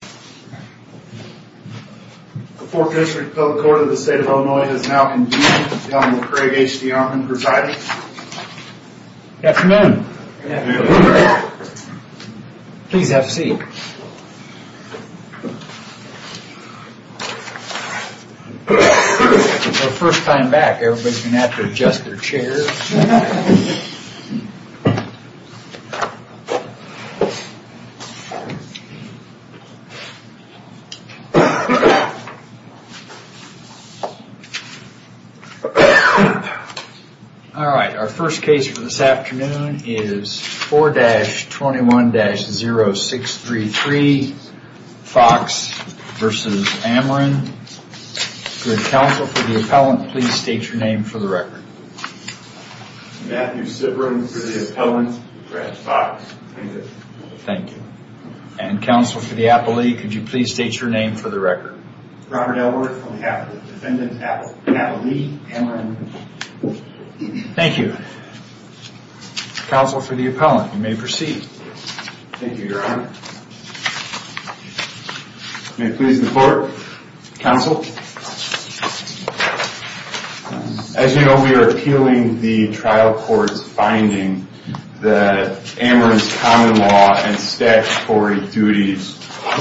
The 4th District Public Court of the State of Illinois has now convened and is now with Craig H. DeArmond presiding. Good afternoon. Please have a seat. It's our first time back, everybody's going to have to adjust their chairs. Alright, our first case for this afternoon is 4-21-0633 Fox v. Ameren. Good. Counsel for the appellant, please state your name for the record. Matthew Sibron for the appellant, Craig Fox. Thank you. And counsel for the appellee, could you please state your name for the record. Robert Elworth on behalf of the defendant's appellee, Ameren. Thank you. Counsel for the appellant, you may proceed. Thank you, Your Honor. May it please the court. Counsel. As you know, we are appealing the trial court's finding that Ameren's common law and statutory duties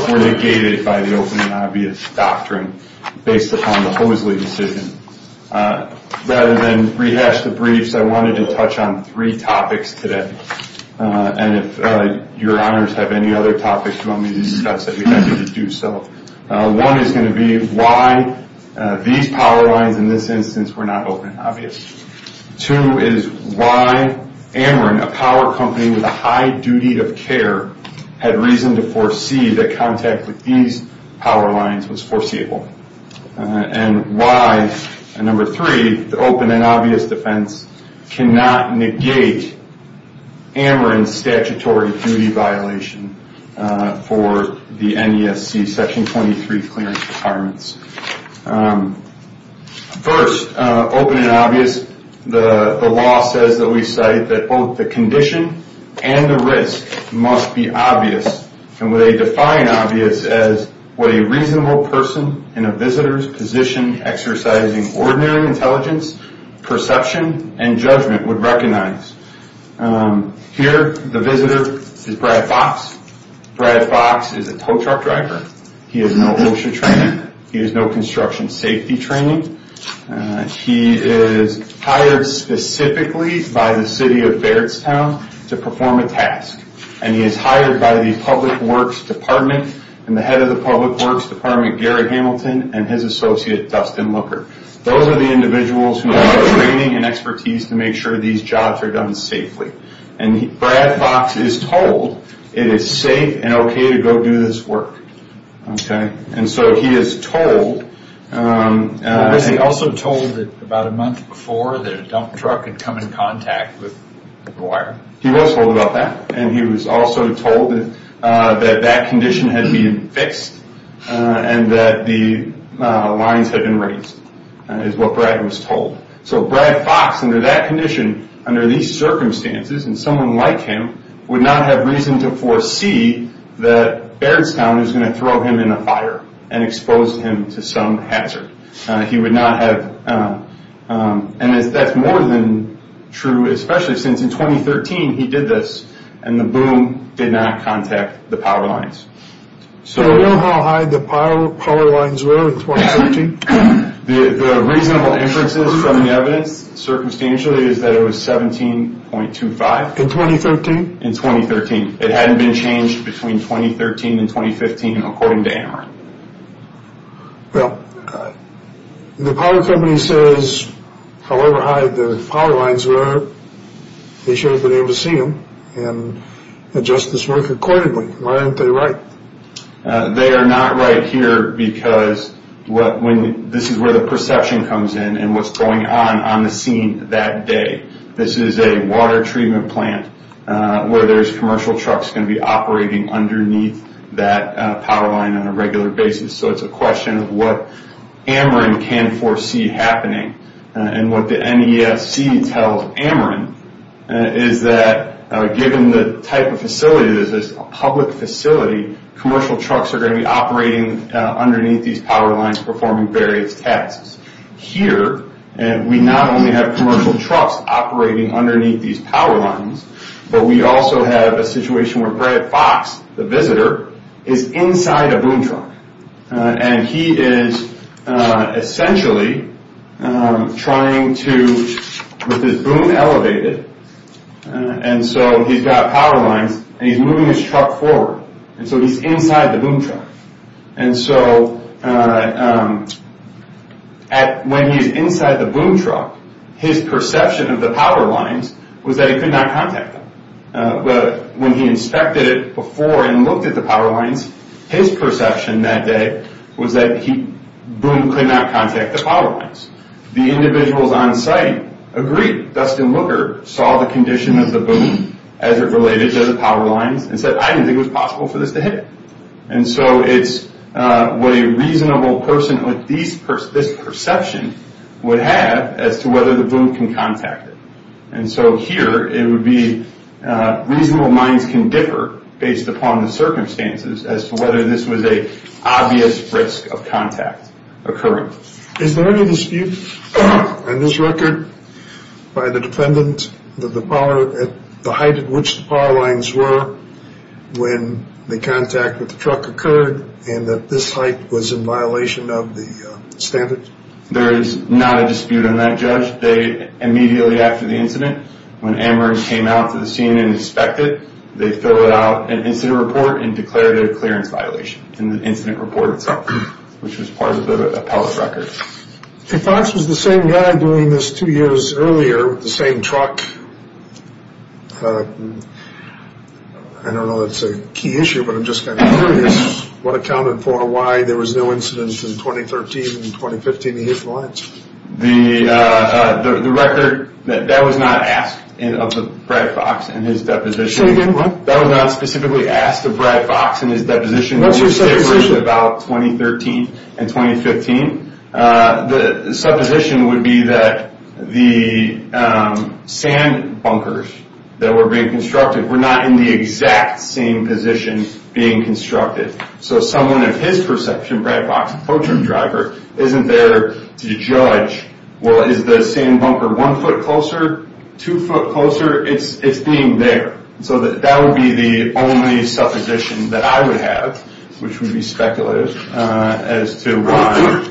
were negated by the open and obvious doctrine based upon the Hoseley decision. Rather than rehash the briefs, I wanted to touch on three topics today. And if Your Honors have any other topics you want me to discuss, I'd be happy to do so. One is going to be why these power lines in this instance were not open and obvious. Two is why Ameren, a power company with a high duty of care, had reason to foresee that contact with these power lines was foreseeable. And why, number three, the open and obvious defense cannot negate Ameren's statutory duty violation for the NESC Section 23 clearance requirements. First, open and obvious, the law says that we cite that both the condition and the risk must be obvious. And we define obvious as what a reasonable person in a visitor's position exercising ordinary intelligence, perception, and judgment would recognize. Here, the visitor is Brad Fox. Brad Fox is a tow truck driver. He has no OSHA training. He has no construction safety training. He is hired specifically by the city of Bairdstown to perform a task. And he is hired by the public works department and the head of the public works department, Gary Hamilton, and his associate, Dustin Looker. Those are the individuals who have the training and expertise to make sure these jobs are done safely. And Brad Fox is told it is safe and okay to go do this work. And so he is told... He was also told about a month before that a dump truck had come in contact with the wire. He was told about that, and he was also told that that condition had been fixed and that the lines had been raised, is what Brad was told. So Brad Fox, under that condition, under these circumstances, and someone like him, would not have reason to foresee that Bairdstown is going to throw him in a fire and expose him to some hazard. He would not have... And that's more than true, especially since in 2013 he did this, and the boom did not contact the power lines. So do you know how high the power lines were in 2013? The reasonable inferences from the evidence, circumstantially, is that it was 17.25. In 2013? In 2013. It hadn't been changed between 2013 and 2015, according to AMR. Well, the power company says, however high the power lines were, they should have been able to see them and adjust this work accordingly. Why aren't they right? They are not right here because this is where the perception comes in and what's going on on the scene that day. This is a water treatment plant where there's commercial trucks going to be operating underneath that power line on a regular basis. So it's a question of what AMR can foresee happening. And what the NESC tells AMR is that given the type of facility, this is a public facility, commercial trucks are going to be operating underneath these power lines performing various tasks. Here, we not only have commercial trucks operating underneath these power lines, but we also have a situation where Brad Fox, the visitor, is inside a boom truck. And he is essentially trying to, with his boom elevated, and so he's got power lines and he's moving his truck forward. And so he's inside the boom truck. And so when he's inside the boom truck, his perception of the power lines was that he could not contact them. But when he inspected it before and looked at the power lines, his perception that day was that the boom could not contact the power lines. The individuals on site agreed. Dustin Lugar saw the condition of the boom as it related to the power lines and said, I didn't think it was possible for this to hit it. And so it's what a reasonable person with this perception would have as to whether the boom can contact it. And so here, it would be reasonable minds can differ based upon the circumstances as to whether this was an obvious risk of contact occurring. Is there any dispute on this record by the defendant that the height at which the power lines were when the contact with the truck occurred and that this height was in violation of the standards? There is not a dispute on that, Judge. Immediately after the incident, when Amherst came out to the scene and inspected, they filled out an incident report and declared it a clearance violation in the incident report itself, which was part of the appellate record. If Fox was the same guy doing this two years earlier with the same truck, I don't know that's a key issue, but I'm just kind of curious, what accounted for why there was no incidents in 2013 and 2015 to hit the lines? The record, that was not asked of Brad Fox in his deposition. Say again, what? That was not specifically asked of Brad Fox in his deposition. What's your supposition? The deposition was about 2013 and 2015. The supposition would be that the sand bunkers that were being constructed were not in the exact same position being constructed. So someone of his perception, Brad Fox, the tow truck driver, isn't there to judge, well, is the sand bunker one foot closer, two foot closer? It's being there. So that would be the only supposition that I would have, which would be speculative, as to why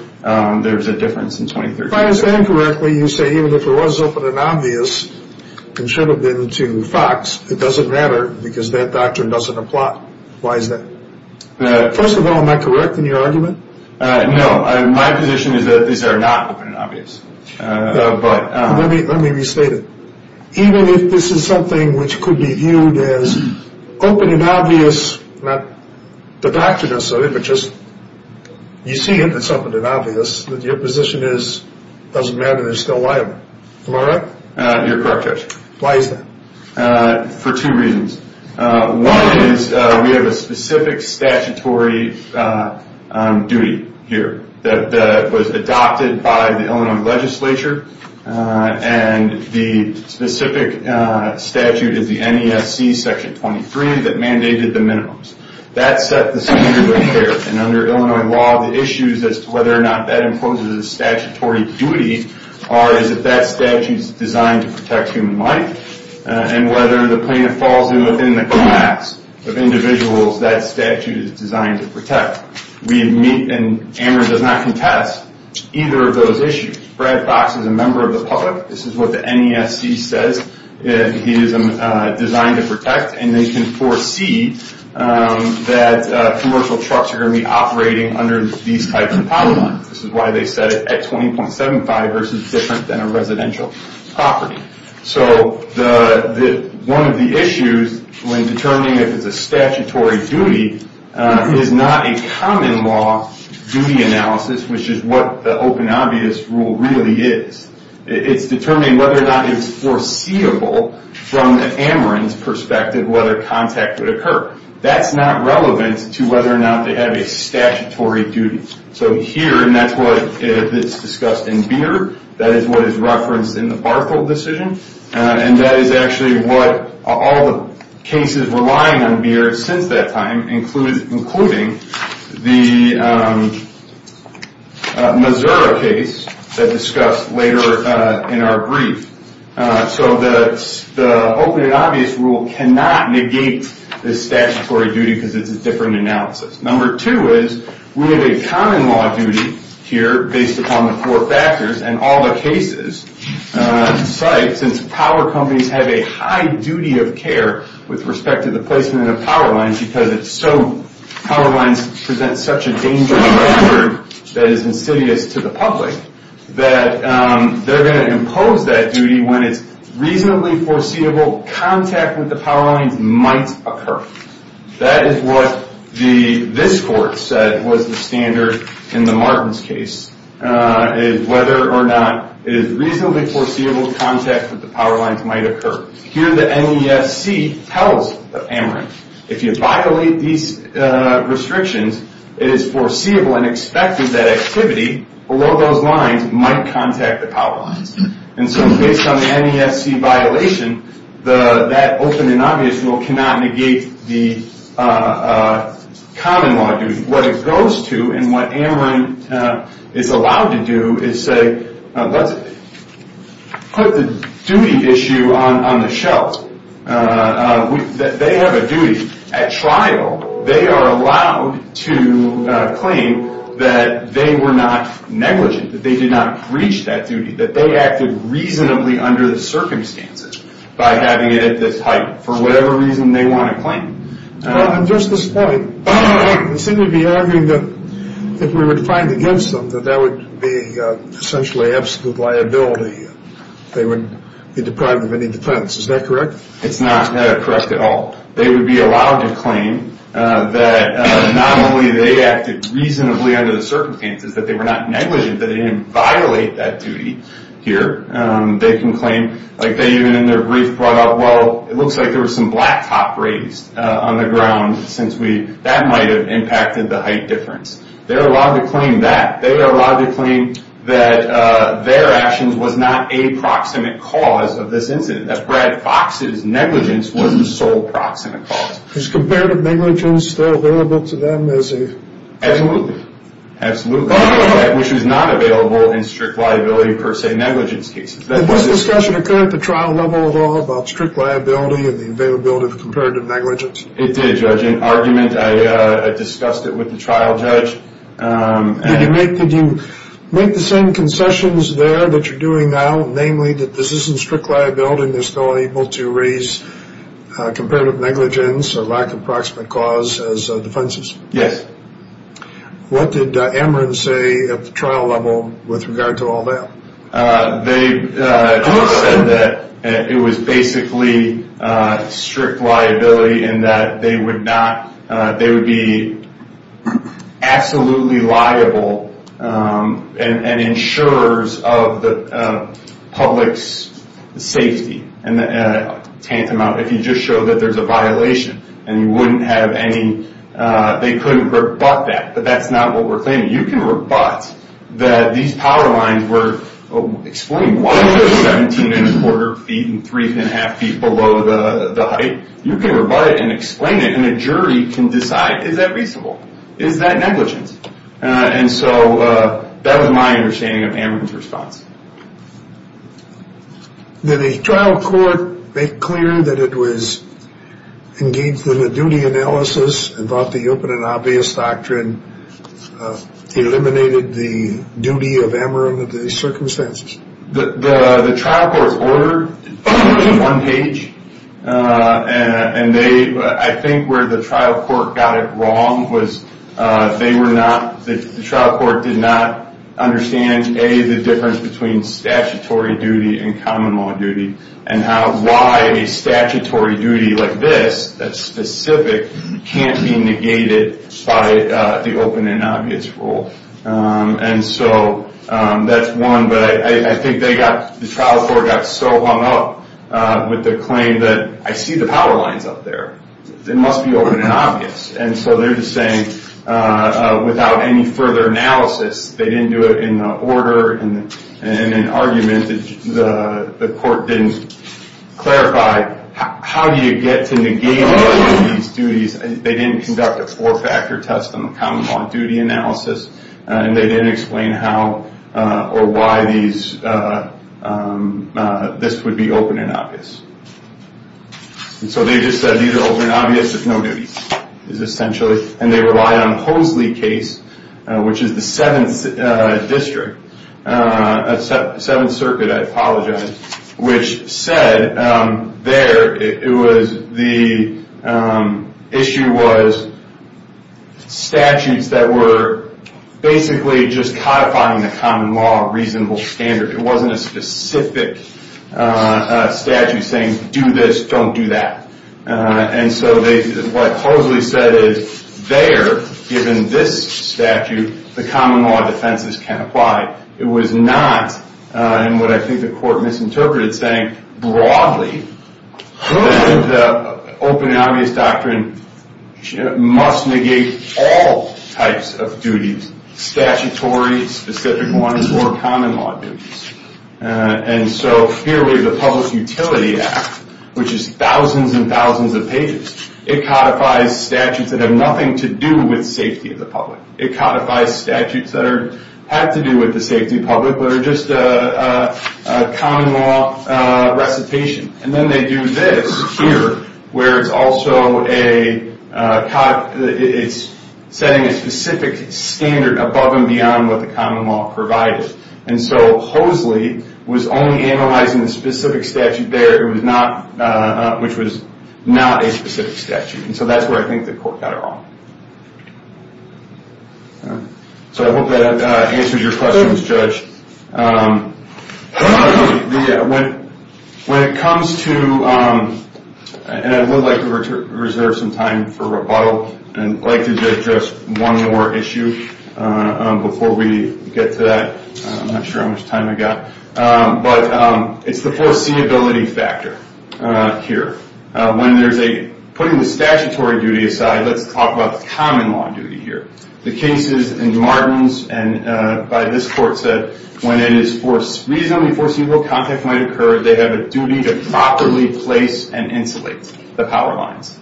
there was a difference in 2013 and 2015. If I understand correctly, you say even if it was open and obvious and should have been to Fox, it doesn't matter because that doctrine doesn't apply. Why is that? First of all, am I correct in your argument? No. My position is that these are not open and obvious. Let me restate it. Even if this is something which could be viewed as open and obvious, not the doctrines of it, but just you see it as open and obvious, that your position is it doesn't matter, they're still liable. Am I right? You're correct, Judge. Why is that? For two reasons. One is we have a specific statutory duty here that was adopted by the Illinois legislature and the specific statute is the NESC Section 23 that mandated the minimums. That set the standard of care, and under Illinois law, the issues as to whether or not that imposes a statutory duty are, is that that statute is designed to protect human life, and whether the plaintiff falls within the class of individuals that statute is designed to protect. We meet, and AMR does not contest, either of those issues. Brad Fox is a member of the public. This is what the NESC says. He is designed to protect, and they can foresee that commercial trucks are going to be operating under these types of power lines. This is why they set it at 20.75 versus different than a residential property. So one of the issues when determining if it's a statutory duty is not a common law duty analysis, which is what the open obvious rule really is. It's determining whether or not it's foreseeable from the AMR perspective, whether contact would occur. That's not relevant to whether or not they have a statutory duty. So here, and that's what is discussed in Beard, that is what is referenced in the Barthold decision, and that is actually what all the cases relying on Beard since that time, including the Missouri case that is discussed later in our brief. So the open and obvious rule cannot negate the statutory duty because it's a different analysis. Number two is we have a common law duty here based upon the four factors, and all the cases cite since power companies have a high duty of care with respect to the placement of power lines because power lines present such a dangerous hazard that is insidious to the public that they're going to impose that duty when it's reasonably foreseeable contact with the power lines might occur. That is what this court said was the standard in the Martins case, is whether or not it is reasonably foreseeable contact with the power lines might occur. Here the NESC tells Ameren, if you violate these restrictions, it is foreseeable and expected that activity below those lines might contact the power lines. And so based on the NESC violation, that open and obvious rule cannot negate the common law duty. What it goes to and what Ameren is allowed to do is say, let's put the duty issue on the shelf that they have a duty at trial. They are allowed to claim that they were not negligent, that they did not breach that duty, that they acted reasonably under the circumstances by having it at this height for whatever reason they want to claim. At just this point, they seem to be arguing that if we were to find against them, that that would be essentially absolute liability. They would be deprived of any defense. Is that correct? It's not correct at all. They would be allowed to claim that not only they acted reasonably under the circumstances, that they were not negligent, that they didn't violate that duty here. They can claim, like they even in their brief brought up, well, it looks like there was some blacktop raised on the ground since that might have impacted the height difference. They are allowed to claim that. They are allowed to claim that their actions was not a proximate cause of this incident, that Brad Fox's negligence wasn't the sole proximate cause. Is comparative negligence still available to them as a? Absolutely. Absolutely. Which is not available in strict liability per se negligence cases. Did this discussion occur at the trial level at all about strict liability and the availability of comparative negligence? It did, Judge. In argument, I discussed it with the trial judge. Did you make the same concessions there that you're doing now, namely that this isn't strict liability and they're still able to raise comparative negligence or lack of proximate cause as defenses? Yes. What did Ameren say at the trial level with regard to all that? They said that it was basically strict liability and that they would not, they would be absolutely liable and insurers of the public's safety. And tantamount, if you just show that there's a violation and you wouldn't have any, they couldn't rebut that, but that's not what we're claiming. You can rebut that these power lines were explained. Why are there 17 and a quarter feet and three and a half feet below the height? You can rebut it and explain it, and a jury can decide, is that reasonable? Is that negligence? And so that was my understanding of Ameren's response. Did the trial court make clear that it was engaged in a duty analysis and thought the open and obvious doctrine eliminated the duty of Ameren under these circumstances? The trial court ordered one page, and I think where the trial court got it wrong was they were not, the trial court did not understand, A, the difference between statutory duty and common law duty, and why a statutory duty like this that's specific can't be negated by the open and obvious rule. And so that's one, but I think they got, the trial court got so hung up with the claim that, I see the power lines up there, it must be open and obvious. And so they're just saying, without any further analysis, they didn't do it in the order, in an argument that the court didn't clarify, how do you get to negate these duties? They didn't conduct a four-factor test on the common law duty analysis, and they didn't explain how or why these, this would be open and obvious. And so they just said these are open and obvious, there's no duties, is essentially, and they rely on Posley case, which is the 7th district, 7th circuit, I apologize, which said there, it was, the issue was statutes that were basically just codifying the common law reasonable standard. It wasn't a specific statute saying, do this, don't do that. And so they, what Posley said is, there, given this statute, the common law defenses can apply. It was not, and what I think the court misinterpreted, saying broadly, the open and obvious doctrine must negate all types of duties, statutory, specific ones, or common law duties. And so, clearly, the Public Utility Act, which is thousands and thousands of pages, it codifies statutes that have nothing to do with safety of the public. It codifies statutes that are, have to do with the safety of the public, but are just a common law recitation. And then they do this here, where it's also a, it's setting a specific standard above and beyond what the common law provided. And so Posley was only analyzing the specific statute there, it was not, which was not a specific statute. And so that's where I think the court got it wrong. So I hope that answers your questions, Judge. When it comes to, and I would like to reserve some time for rebuttal, and I'd like to address one more issue before we get to that. I'm not sure how much time I've got. But it's the foreseeability factor here. When there's a, putting the statutory duty aside, let's talk about the common law duty here. The cases in Martins and by this court said, when it is reasonably foreseeable, contact might occur, they have a duty to properly place and insulate the power lines.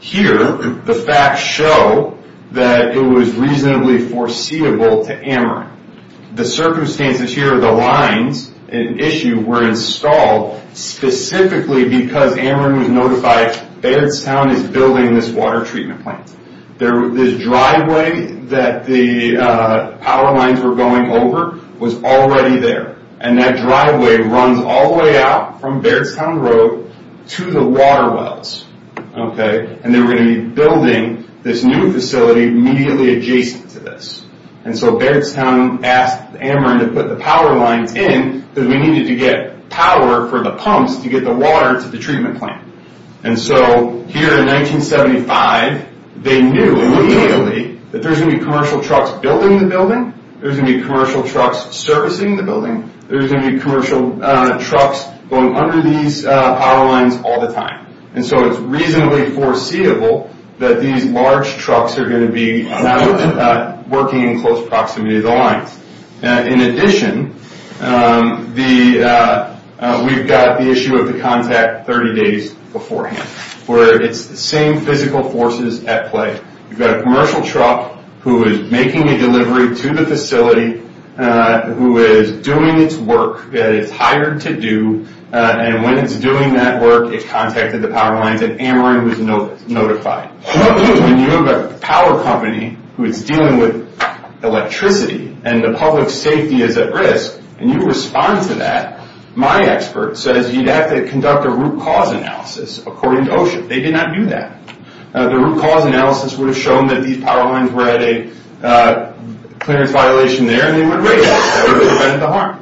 Here, the facts show that it was reasonably foreseeable to Ameren. The circumstances here, the lines issue were installed specifically because Ameren was notified, Bairdstown is building this water treatment plant. This driveway that the power lines were going over was already there. And that driveway runs all the way out from Bairdstown Road to the water wells. And they were going to be building this new facility immediately adjacent to this. And so Bairdstown asked Ameren to put the power lines in, because we needed to get power for the pumps to get the water to the treatment plant. And so here in 1975, they knew immediately that there's going to be commercial trucks building the building, there's going to be commercial trucks servicing the building, there's going to be commercial trucks going under these power lines all the time. And so it's reasonably foreseeable that these large trucks are going to be working in close proximity to the lines. In addition, we've got the issue of the contact 30 days beforehand, where it's the same physical forces at play. You've got a commercial truck who is making a delivery to the facility, who is doing its work that it's hired to do, and when it's doing that work, it contacted the power lines, and Ameren was notified. When you have a power company who is dealing with electricity, and the public safety is at risk, and you respond to that, my expert says you'd have to conduct a root cause analysis according to OSHA. They did not do that. The root cause analysis would have shown that these power lines were at a clearance violation there, and they would rate that. That would have prevented the harm.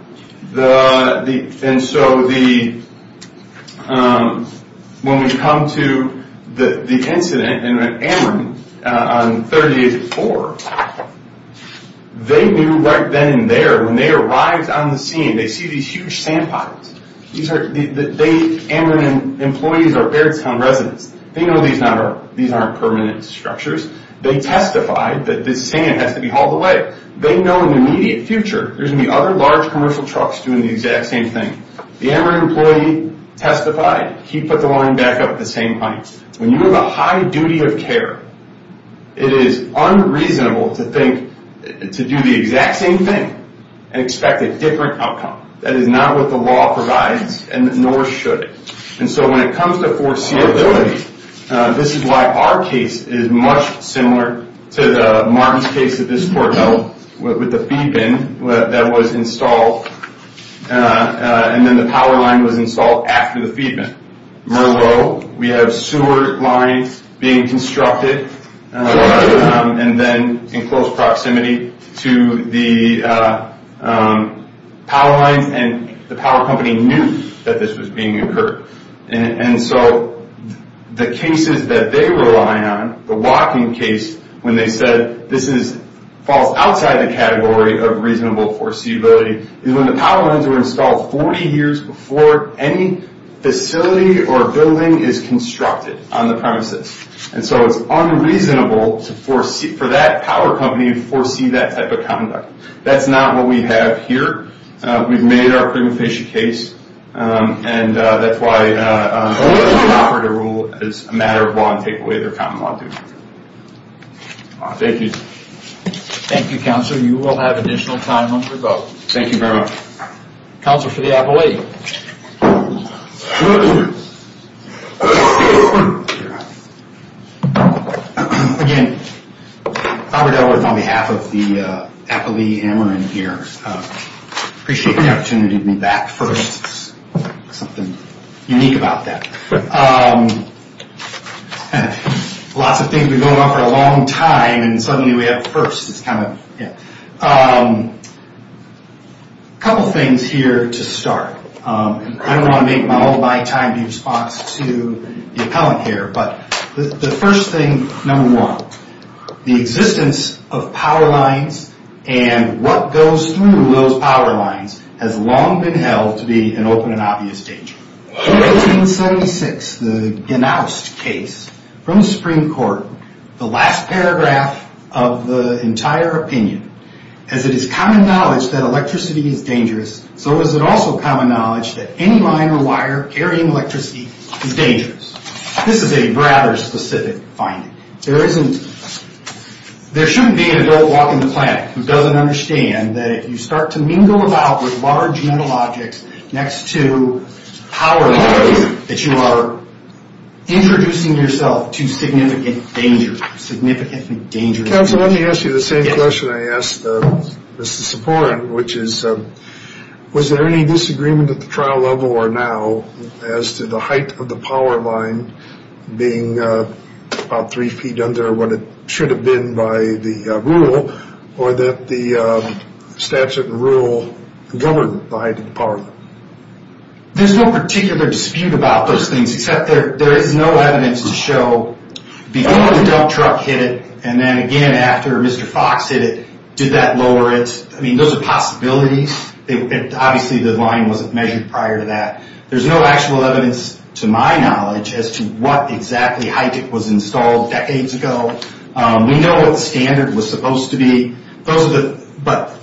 When we come to the incident in Ameren on 30 days before, they knew right then and there, when they arrived on the scene, they see these huge sand piles. Ameren employees are Bairdstown residents. They know these aren't permanent structures. They testified that this sand has to be hauled away. They know in the immediate future there's going to be other large commercial trucks doing the exact same thing. The Ameren employee testified. He put the line back up at the same time. When you have a high duty of care, it is unreasonable to think to do the exact same thing and expect a different outcome. That is not what the law provides, nor should it. And so when it comes to foreseeability, this is why our case is much similar to Martin's case at this port with the feed bin that was installed, and then the power line was installed after the feed bin. Merlot, we have sewer lines being constructed, and then in close proximity to the power lines, and the power company knew that this was being incurred. And so the cases that they rely on, the walking case, when they said this falls outside the category of reasonable foreseeability, is when the power lines were installed 40 years before any facility or building is constructed on the premises. And so it's unreasonable for that power company to foresee that type of conduct. That's not what we have here. We've made our prima facie case, and that's why only the operator will, as a matter of law, take away their common law duties. Thank you. Thank you, Counselor. You will have additional time after the vote. Thank you very much. Counsel for the appellee. Again, Robert Edwards on behalf of the appellee Ameren here. Appreciate the opportunity to be back first. There's something unique about that. Lots of things we've been going on for a long time, and suddenly we have firsts. A couple things here to start. I don't want to make my whole lifetime response to the appellant here, but the first thing, number one, the existence of power lines and what goes through those power lines has long been held to be an open and obvious danger. In 1876, the Genaust case from the Supreme Court, the last paragraph of the entire opinion, as it is common knowledge that electricity is dangerous, so is it also common knowledge that any line or wire carrying electricity is dangerous. This is a rather specific finding. There shouldn't be an adult walking the planet who doesn't understand that if you start to mingle about with large metal objects next to power lines, that you are introducing yourself to significant danger. Counsel, let me ask you the same question I asked Mr. Siporin, which is was there any disagreement at the trial level or now as to the height of the power line being about three feet under what it should have been by the rule or that the statute and rule govern the height of the power line. There's no particular dispute about those things, except there is no evidence to show before the dump truck hit it and then again after Mr. Fox hit it, did that lower it? I mean, those are possibilities. Obviously, the line wasn't measured prior to that. There's no actual evidence to my knowledge as to what exactly height it was installed decades ago. We know what the standard was supposed to be, but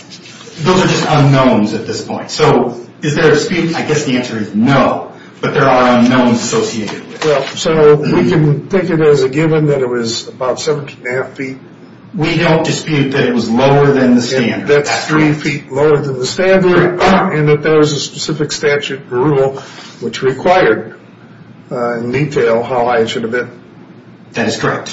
those are just unknowns at this point. So is there a dispute? I guess the answer is no, but there are unknowns associated with it. So we can take it as a given that it was about 17 and a half feet. We don't dispute that it was lower than the standard. That's three feet lower than the standard and that there was a specific statute and rule which required in detail how high it should have been. That is correct.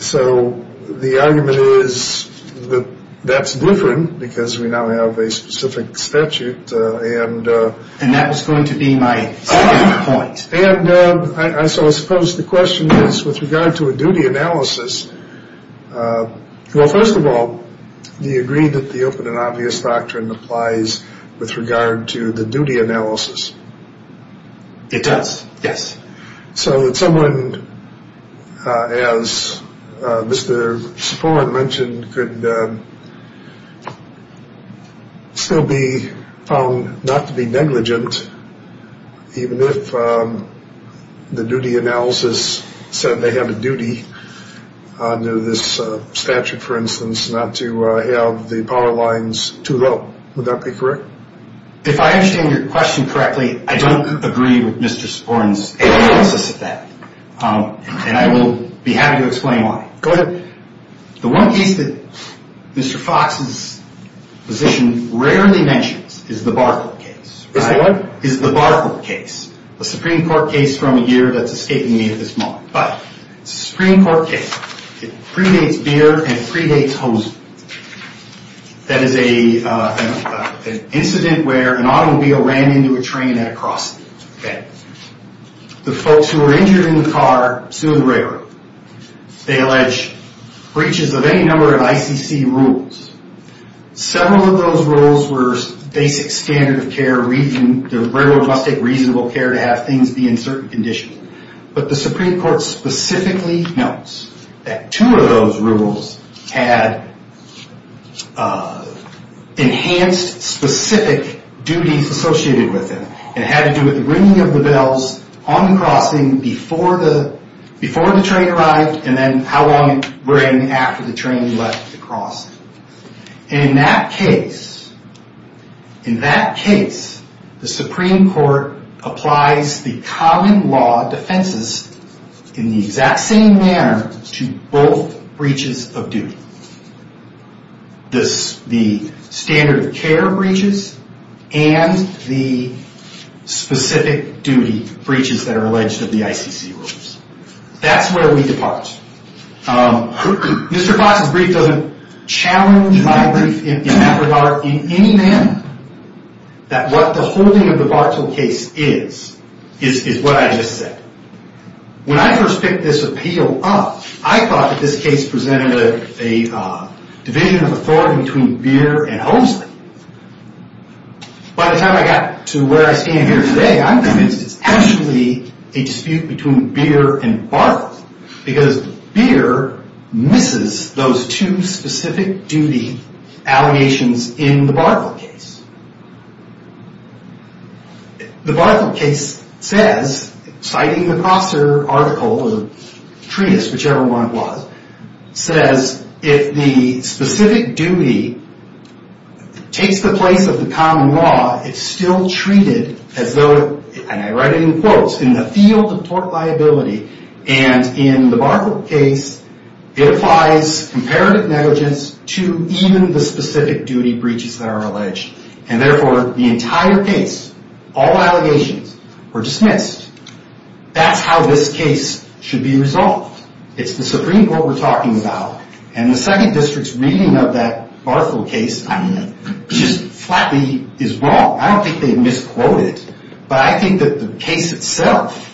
So the argument is that that's different because we now have a specific statute. And that was going to be my point. And I suppose the question is with regard to a duty analysis. Well, first of all, do you agree that the open and obvious doctrine applies with regard to the duty analysis? It does. Yes. So that someone, as Mr. Sporn mentioned, could still be found not to be negligent, even if the duty analysis said they have a duty under this statute, for instance, not to have the power lines too low. Would that be correct? If I understand your question correctly, I don't agree with Mr. Sporn's analysis of that. And I will be happy to explain why. Go ahead. The one case that Mr. Fox's position rarely mentions is the Barclay case. Is the what? Is the Barclay case, a Supreme Court case from a year that's escaping me at this moment. But it's a Supreme Court case. It predates beer and it predates hosiery. That is an incident where an automobile ran into a train at a crossing. The folks who were injured in the car sued the railroad. They allege breaches of any number of ICC rules. Several of those rules were basic standard of care. The railroad must take reasonable care to have things be in certain condition. But the Supreme Court specifically notes that two of those rules had enhanced specific duties associated with them. It had to do with the ringing of the bells on the crossing before the train arrived and then how long it rang after the train left the crossing. In that case, the Supreme Court applies the common law defenses in the exact same manner to both breaches of duty. The standard of care breaches and the specific duty breaches that are alleged of the ICC rules. That's where we depart. Mr. Fox's brief doesn't challenge my brief in that regard in any manner. That what the holding of the Bartle case is, is what I just said. When I first picked this appeal up, I thought that this case presented a division of authority between beer and hosiery. By the time I got to where I stand here today, I'm convinced it's actually a dispute between beer and Bartle. Because beer misses those two specific duty allegations in the Bartle case. The Bartle case says, citing the Koster article or treatise, whichever one it was, says if the specific duty takes the place of the common law, it's still treated as though, and I write it in quotes, in the field of tort liability. And in the Bartle case, it applies comparative negligence to even the specific duty breaches that are alleged. And therefore, the entire case, all allegations, were dismissed. That's how this case should be resolved. It's the Supreme Court we're talking about. And the Second District's reading of that Bartle case just flatly is wrong. I don't think they misquoted, but I think that the case itself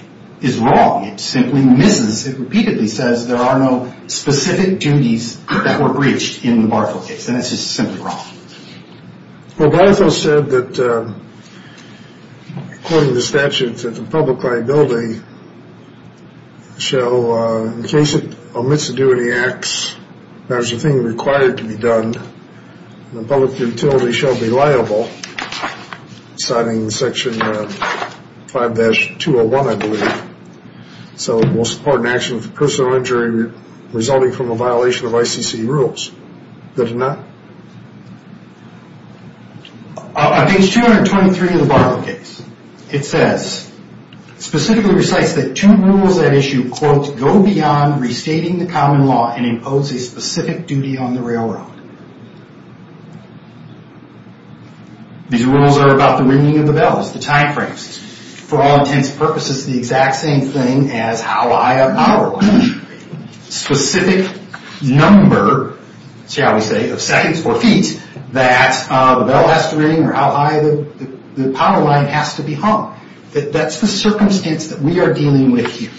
is wrong. It simply misses. It repeatedly says there are no specific duties that were breached in the Bartle case. And it's just simply wrong. Well, Bartle said that, according to the statute, that the public liability shall, So in case it omits to do any acts, there's a thing required to be done, and the public utility shall be liable, citing Section 5-201, I believe. So it will support an action of personal injury resulting from a violation of ICC rules. Does it not? On page 223 of the Bartle case, it says, Specifically recites that two rules at issue, These rules are about the ringing of the bells, the time frames. For all intents and purposes, the exact same thing as how high a power line should ring. Specific number, shall we say, of seconds or feet that the bell has to ring or how high the power line has to be hung. That's the circumstance that we are dealing with here.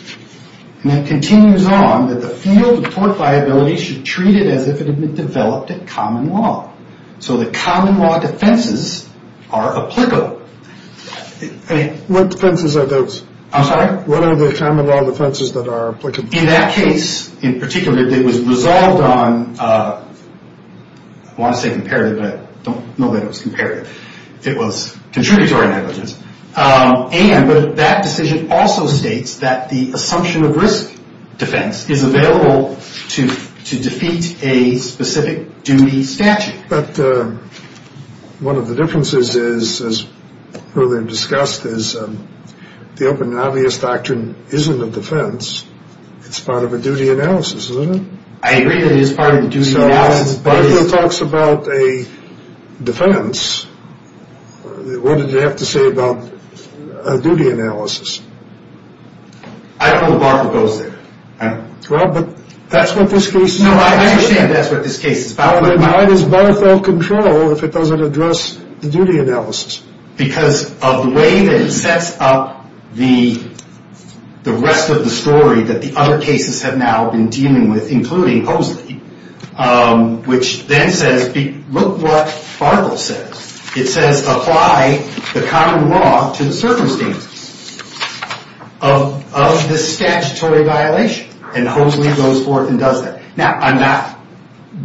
And it continues on that the field of court liability should treat it as if it had been developed at common law. So the common law defenses are applicable. What defenses are those? I'm sorry? What are the common law defenses that are applicable? In that case, in particular, it was resolved on, I want to say comparative, but I don't know that it was comparative. It was contributory negligence. And that decision also states that the assumption of risk defense is available to defeat a specific duty statute. But one of the differences is, as earlier discussed, is the open and obvious doctrine isn't a defense. It's part of a duty analysis, isn't it? I agree that it is part of the duty analysis. When Barthel talks about a defense, what did he have to say about a duty analysis? I don't know that Barthel goes there. I don't know. Well, but that's what this case is about. No, I understand that's what this case is about. But why does Barthel control if it doesn't address the duty analysis? Because of the way that it sets up the rest of the story that the other cases have now been dealing with, including Hoseley, which then says, look what Barthel says. It says apply the common law to the circumstances of this statutory violation. And Hoseley goes forth and does that. Now, I'm not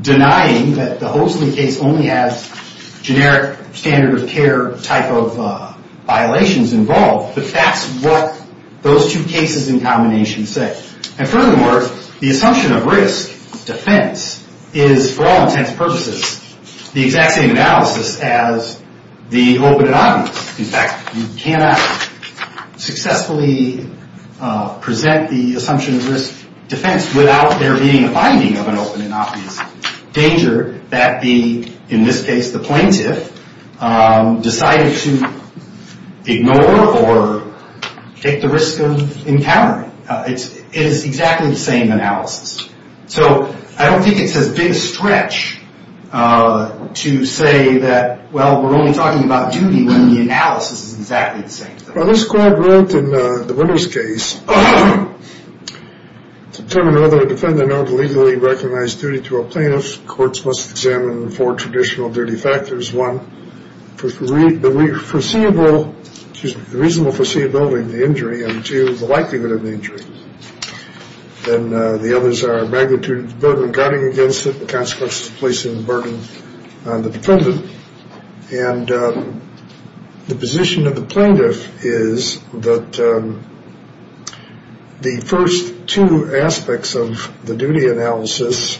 denying that the Hoseley case only has generic standard of care type of violations involved, but that's what those two cases in combination say. And furthermore, the assumption of risk defense is, for all intents and purposes, the exact same analysis as the open and obvious. In fact, you cannot successfully present the assumption of risk defense without there being a finding of an open and obvious danger that the, in this case, the plaintiff, decided to ignore or take the risk of encountering. It is exactly the same analysis. So I don't think it's as big a stretch to say that, well, we're only talking about duty when the analysis is exactly the same. Well, this court wrote in the Winters case, to determine whether a defendant ought to legally recognize duty to a plaintiff, courts must examine four traditional duty factors. One, the reasonable foreseeability of the injury. And two, the likelihood of the injury. And the others are magnitude of the burden guarding against it, the consequences of placing the burden on the defendant. And the position of the plaintiff is that the first two aspects of the duty analysis,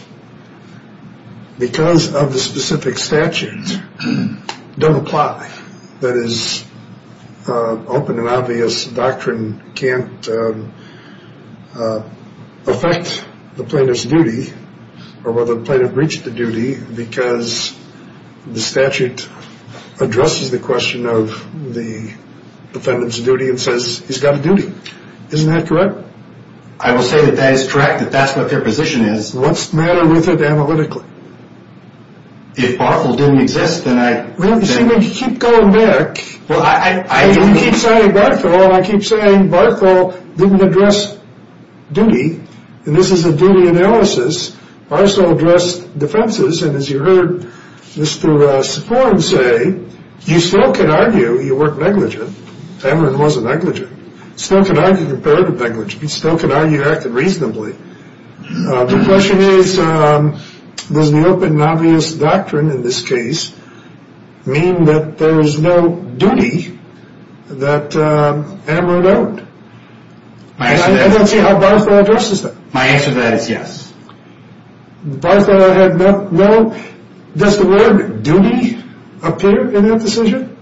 because of the specific statute, don't apply. That is, open and obvious doctrine can't affect the plaintiff's duty or whether the plaintiff breached the duty because the statute addresses the question of the defendant's duty and says he's got a duty. Isn't that correct? I will say that that is correct, that that's what their position is. What's the matter with it analytically? If Barthel didn't exist, then I — Well, you see, when you keep going back — Well, I — You keep saying Barthel, and I keep saying Barthel didn't address duty, and this is a duty analysis. Barthel addressed defenses. And as you heard Mr. Safforn say, you still can argue you weren't negligent. Cameron was a negligent. You still can argue you were negligent. You still can argue you acted reasonably. The question is, does the open and obvious doctrine in this case mean that there is no duty that Amaro don't? And I don't see how Barthel addresses that. My answer to that is yes. Barthel had no — does the word duty appear in that decision?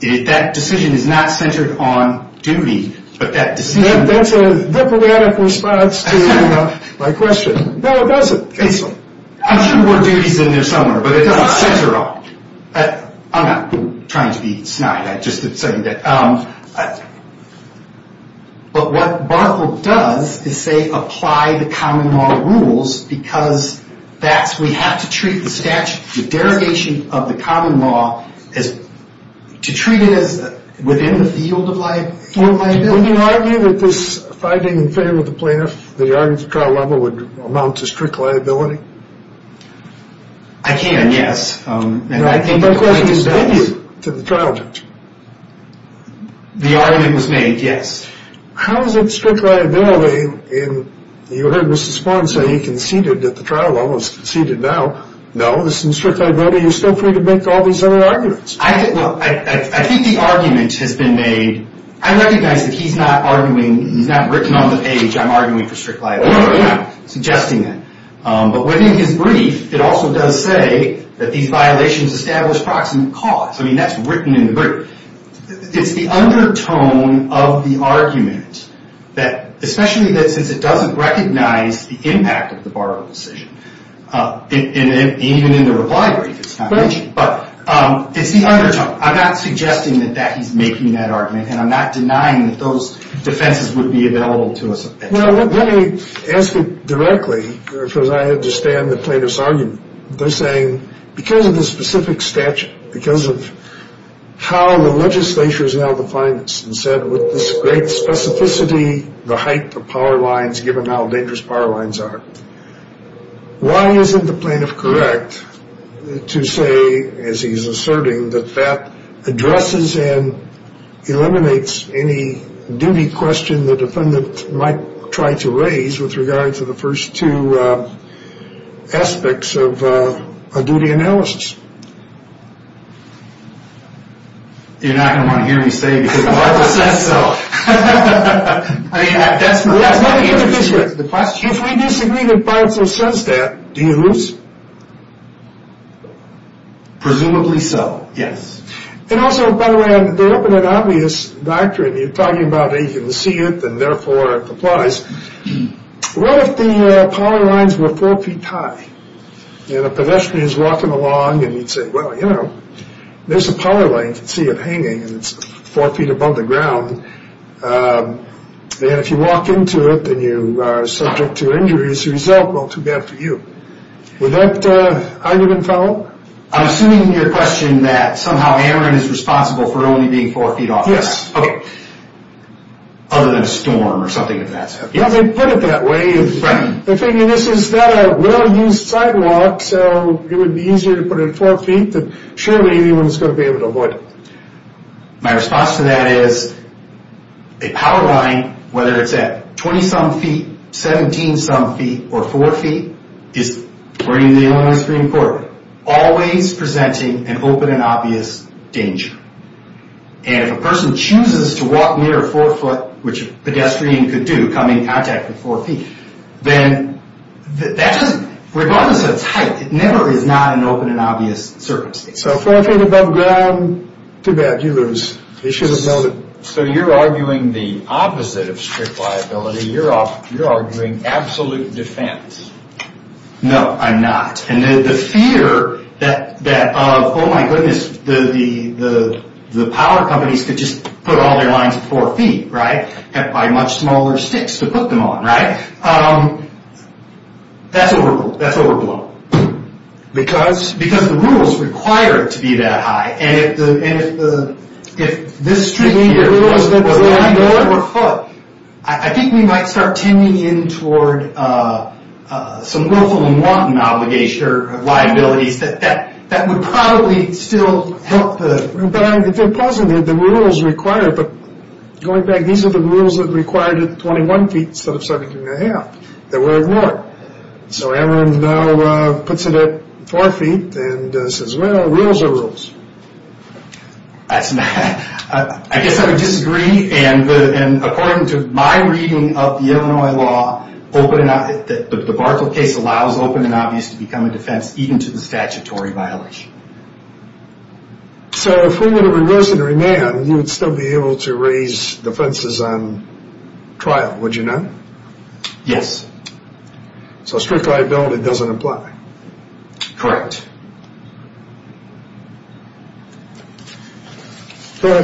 That decision is not centered on duty, but that decision — That's a diplomatic response to my question. No, it doesn't. I'm sure the word duty is in there somewhere, but it doesn't center at all. I'm not trying to be snide. I'm just saying that — But what Barthel does is, say, apply the common law rules because that's — we have to treat the statute, the derogation of the common law as — to treat it as within the field of liability. Would you argue that this fighting and failure of the plaintiff, the argument at trial level, would amount to strict liability? I can, yes. And I think the plaintiff does. No, my question is, did you, to the trial judge? The argument was made, yes. How is it strict liability in — you heard Mr. Spohn say he conceded at the trial level, he's conceded now. No, this isn't strict liability. You're still free to make all these other arguments. I think — well, I think the argument has been made — I recognize that he's not arguing — he's not written on the page, I'm arguing for strict liability. No, no, no. I'm not suggesting that. But within his brief, it also does say that these violations establish proximate cause. I mean, that's written in the brief. It's the undertone of the argument that — especially that since it doesn't recognize the impact of the borrowed decision, even in the reply brief, it's not mentioned. But it's the undertone. I'm not suggesting that he's making that argument, and I'm not denying that those defenses would be available to us at trial. Well, let me ask it directly because I understand the plaintiff's argument. They're saying because of the specific statute, because of how the legislature is now defined this, and said with this great specificity the height of power lines given how dangerous power lines are, why isn't the plaintiff correct to say, as he's asserting, that that addresses and eliminates any duty question the defendant might try to raise with regard to the first two aspects of a duty analysis? You're not going to want to hear me say it because Michael says so. I mean, that's my point. If we disagree that Barthel says that, do you lose? Presumably so, yes. And also, by the way, they open an obvious doctrine. You're talking about it. You can see it, and therefore it applies. What if the power lines were four feet high, and a pedestrian is walking along, and you'd say, well, you know, there's a power line. You can see it hanging, and it's four feet above the ground. And if you walk into it, then you are subject to injury. As a result, well, too bad for you. Would that argument follow? I'm assuming in your question that somehow Aaron is responsible for only being four feet off the ground. Yes. Okay. Other than a storm or something of that sort. Yeah, they put it that way. Right. They figure this is not a well-used sidewalk, so it would be easier to put it at four feet, but surely anyone's going to be able to avoid it. My response to that is a power line, whether it's at 20-some feet, 17-some feet, or four feet, is, according to the Illinois Supreme Court, always presenting an open and obvious danger. And if a person chooses to walk near a four-foot, which a pedestrian could do, come in contact with four feet, then that doesn't, regardless of the type, it never is not an open and obvious circumstance. So four feet above ground, too bad. You lose. You should have known it. So you're arguing the opposite of strict liability. You're arguing absolute defense. No, I'm not. And the fear that, oh, my goodness, the power companies could just put all their lines at four feet, right, and buy much smaller sticks to put them on, right, that's overblown. Because? Because the rules require it to be that high. And if this street here was nine-foot, I think we might start tending in toward some willful and wanton obligation or liabilities that would probably still help the... But if they're positive, the rules require it. But going back, these are the rules that required it at 21 feet instead of 17-1⁄2. They were ignored. So everyone now puts it at four feet and says, well, rules are rules. I guess I would disagree. And according to my reading of the Illinois law, the debacle case allows open and obvious to become a defense even to the statutory violation. So if we were to reverse it or remand, you would still be able to raise defenses on trial, would you not? Yes. So strict liability doesn't apply. Correct. I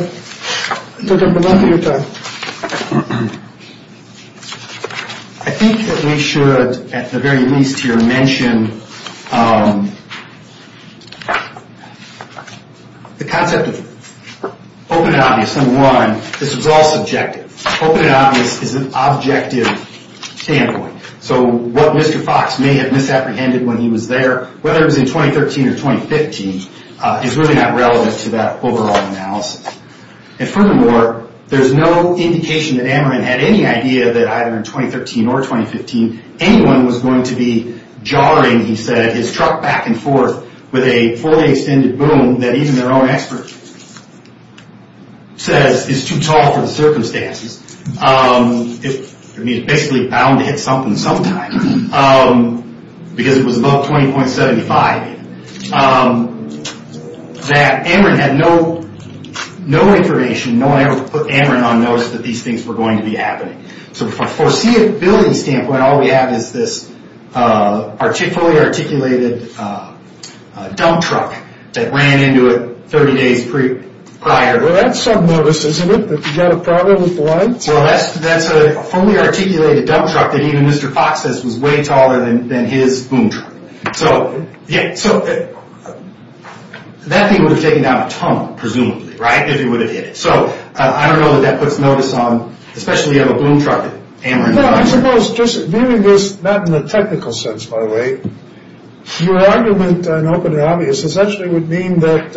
think that we should, at the very least here, mention the concept of open and obvious. Number one, this is all subjective. Open and obvious is an objective standpoint. So what Mr. Fox may have misapprehended when he was there, whether it was in 2013 or 2015, is really not relevant to that overall analysis. And furthermore, there's no indication that Ameren had any idea that either in 2013 or 2015, anyone was going to be jarring, he said, his truck back and forth with a fully extended boom that even their own expert says is too tall for the circumstances. I mean, it's basically bound to hit something sometime. Because it was above 20.75. That Ameren had no information, no one ever put Ameren on notice that these things were going to be happening. So from a foreseeability standpoint, all we have is this fully articulated dump truck that ran into it 30 days prior. Well, that's some notice, isn't it, that you got a problem with the lights? Well, that's a fully articulated dump truck that even Mr. Fox says was way taller than his boom truck. So that thing would have taken down a tunnel, presumably, right, if it would have hit it. So I don't know that that puts notice on, especially on a boom truck, Ameren. I suppose, just viewing this not in a technical sense, by the way, your argument on open and obvious essentially would mean that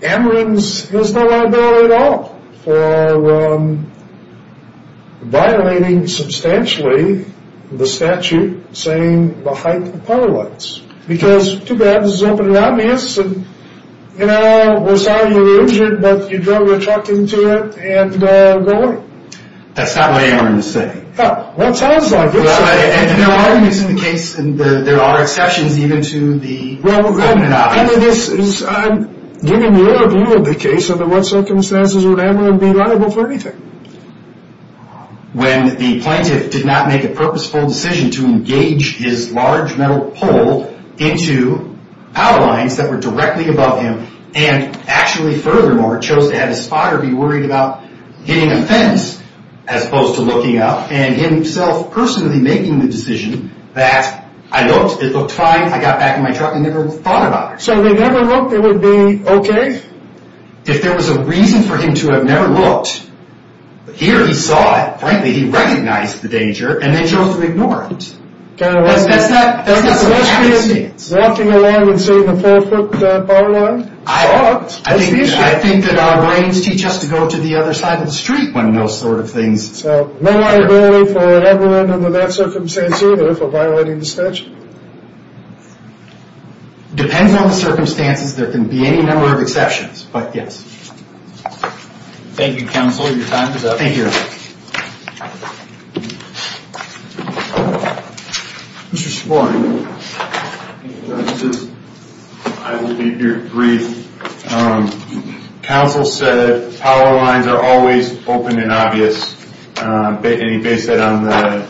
Ameren has no liability at all for violating substantially the statute saying the height of the power lines. Because, too bad, this is open and obvious, and, you know, we're sorry you were injured, but you drove a truck into it, and go away. That's not what Ameren is saying. Well, it sounds like it. And there are arguments in the case, and there are exceptions even to the open and obvious. I'm giving your view of the case, under what circumstances would Ameren be liable for anything? When the plaintiff did not make a purposeful decision to engage his large metal pole into power lines that were directly above him, and actually, furthermore, chose to have his spotter be worried about hitting a fence as opposed to looking up, and himself personally making the decision that I looked, it looked fine, I got back in my truck, and never thought about it. So they never looked, it would be okay? If there was a reason for him to have never looked, here he saw it, frankly, he recognized the danger, and then chose to ignore it. That's not so much a coincidence. Walking along and seeing a four-foot power line? I think that our brains teach us to go to the other side of the street when those sort of things occur. So no liability for Ameren under that circumstance either for violating the statute? Depends on the circumstances, there can be any number of exceptions, but yes. Thank you, counsel, your time is up. Thank you. Mr. Spaulding. Thank you, Justice. I will be brief. Counsel said power lines are always open and obvious, and he based that on the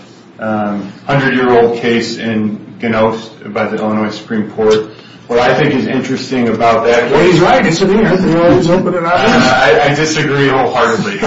100-year-old case in Ginnos by the Illinois Supreme Court. What I think is interesting about that case, Well, he's right, it's open and obvious. I disagree wholeheartedly.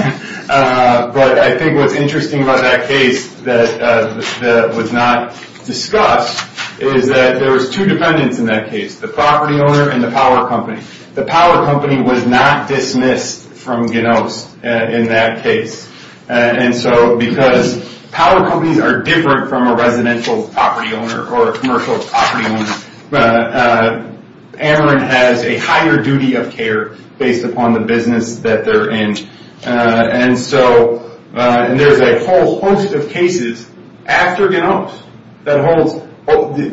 But I think what's interesting about that case that was not discussed is that there was two defendants in that case, the property owner and the power company. The power company was not dismissed from Ginnos in that case. And so because power companies are different from a residential property owner or a commercial property owner, Ameren has a higher duty of care based upon the business that they're in. And so there's a whole host of cases after Ginnos that holds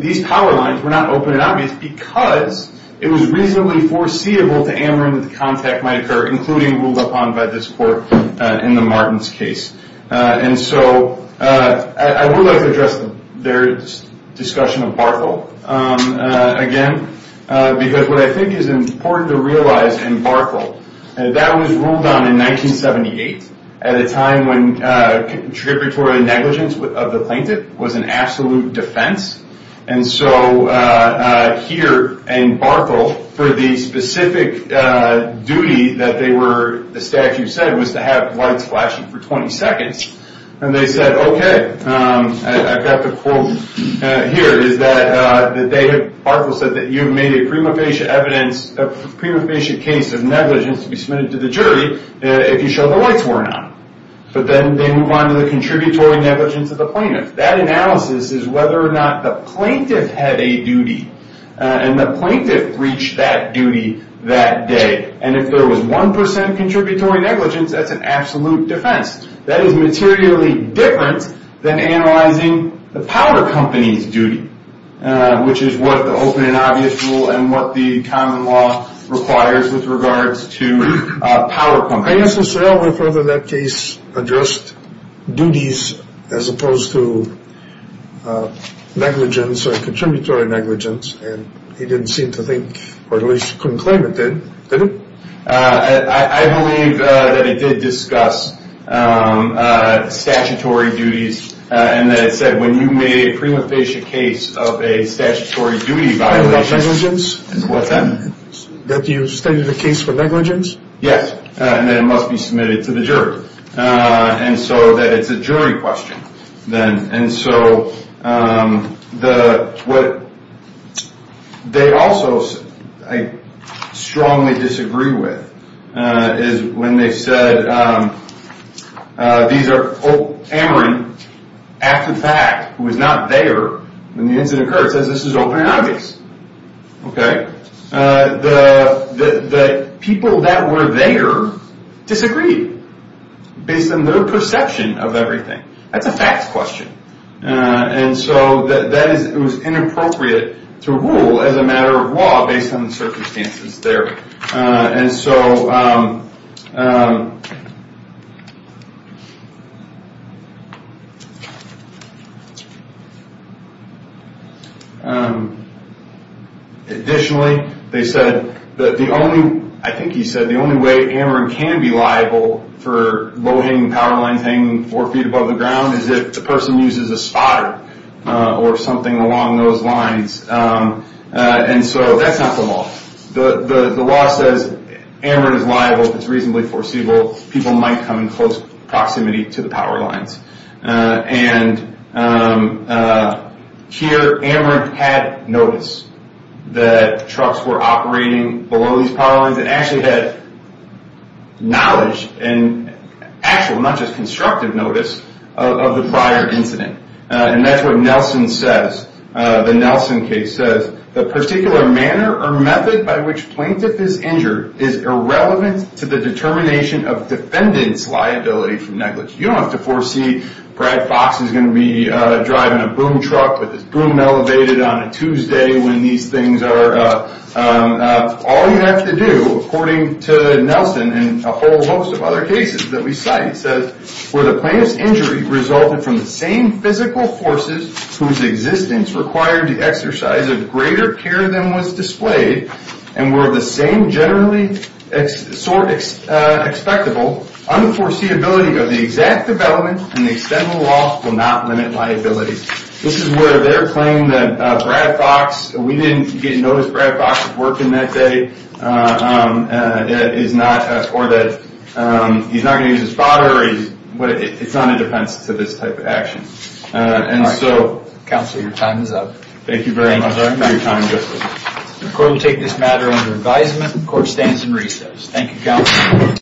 these power lines were not open and obvious because it was reasonably foreseeable to Ameren that the contact might occur, including ruled upon by this court in the Martins case. And so I would like to address their discussion of Barthel again, because what I think is important to realize in Barthel, that was ruled on in 1978 at a time when contributory negligence of the plaintiff was an absolute defense. And so here in Barthel, for the specific duty that they were, the statute said, was to have lights flashing for 20 seconds. And they said, okay, I've got the quote here, is that Barthel said that you've made a prima facie evidence, a prima facie case of negligence to be submitted to the jury if you show the lights were on. But then they move on to the contributory negligence of the plaintiff. That analysis is whether or not the plaintiff had a duty. And the plaintiff reached that duty that day. And if there was 1% contributory negligence, that's an absolute defense. That is materially different than analyzing the power company's duty, which is what the open and obvious rule and what the common law requires with regards to power companies. I asked Lucero whether that case addressed duties as opposed to negligence or contributory negligence, and he didn't seem to think, or at least couldn't claim it did, did he? I believe that it did discuss statutory duties, and that it said when you made a prima facie case of a statutory duty violation. Negligence? What's that? That you studied a case for negligence? Yes, and that it must be submitted to the jury. And so that it's a jury question, then. And so what they also strongly disagree with is when they said, these are, oh, Cameron, active fact, who was not there when the incident occurred, says this is open and obvious. The people that were there disagreed based on their perception of everything. That's a facts question. And so it was inappropriate to rule as a matter of law based on the circumstances there. And so additionally, they said that the only, I think he said, the only way Cameron can be liable for low-hanging power lines hanging four feet above the ground is if the person uses a spotter or something along those lines. The law says Amarant is liable if it's reasonably foreseeable. People might come in close proximity to the power lines. And here Amarant had notice that trucks were operating below these power lines and actually had knowledge and actual, not just constructive notice of the prior incident. And that's what Nelson says. The Nelson case says, the particular manner or method by which plaintiff is injured is irrelevant to the determination of defendant's liability for negligence. You don't have to foresee Brad Fox is going to be driving a boom truck with his boom elevated on a Tuesday when these things are up. All you have to do, according to Nelson and a whole host of other cases that we cite, where the plaintiff's injury resulted from the same physical forces whose existence required the exercise of greater care than was displayed and were the same generally expectable, unforeseeability of the exact development and the extent of the loss will not limit liability. This is where they're claiming that Brad Fox, we didn't notice Brad Fox was working that day, or that he's not going to use his father. It's not in defense to this type of action. And so... Counselor, your time is up. Thank you very much. The court will take this matter under advisement. The court stands in recess. Thank you, Counselor.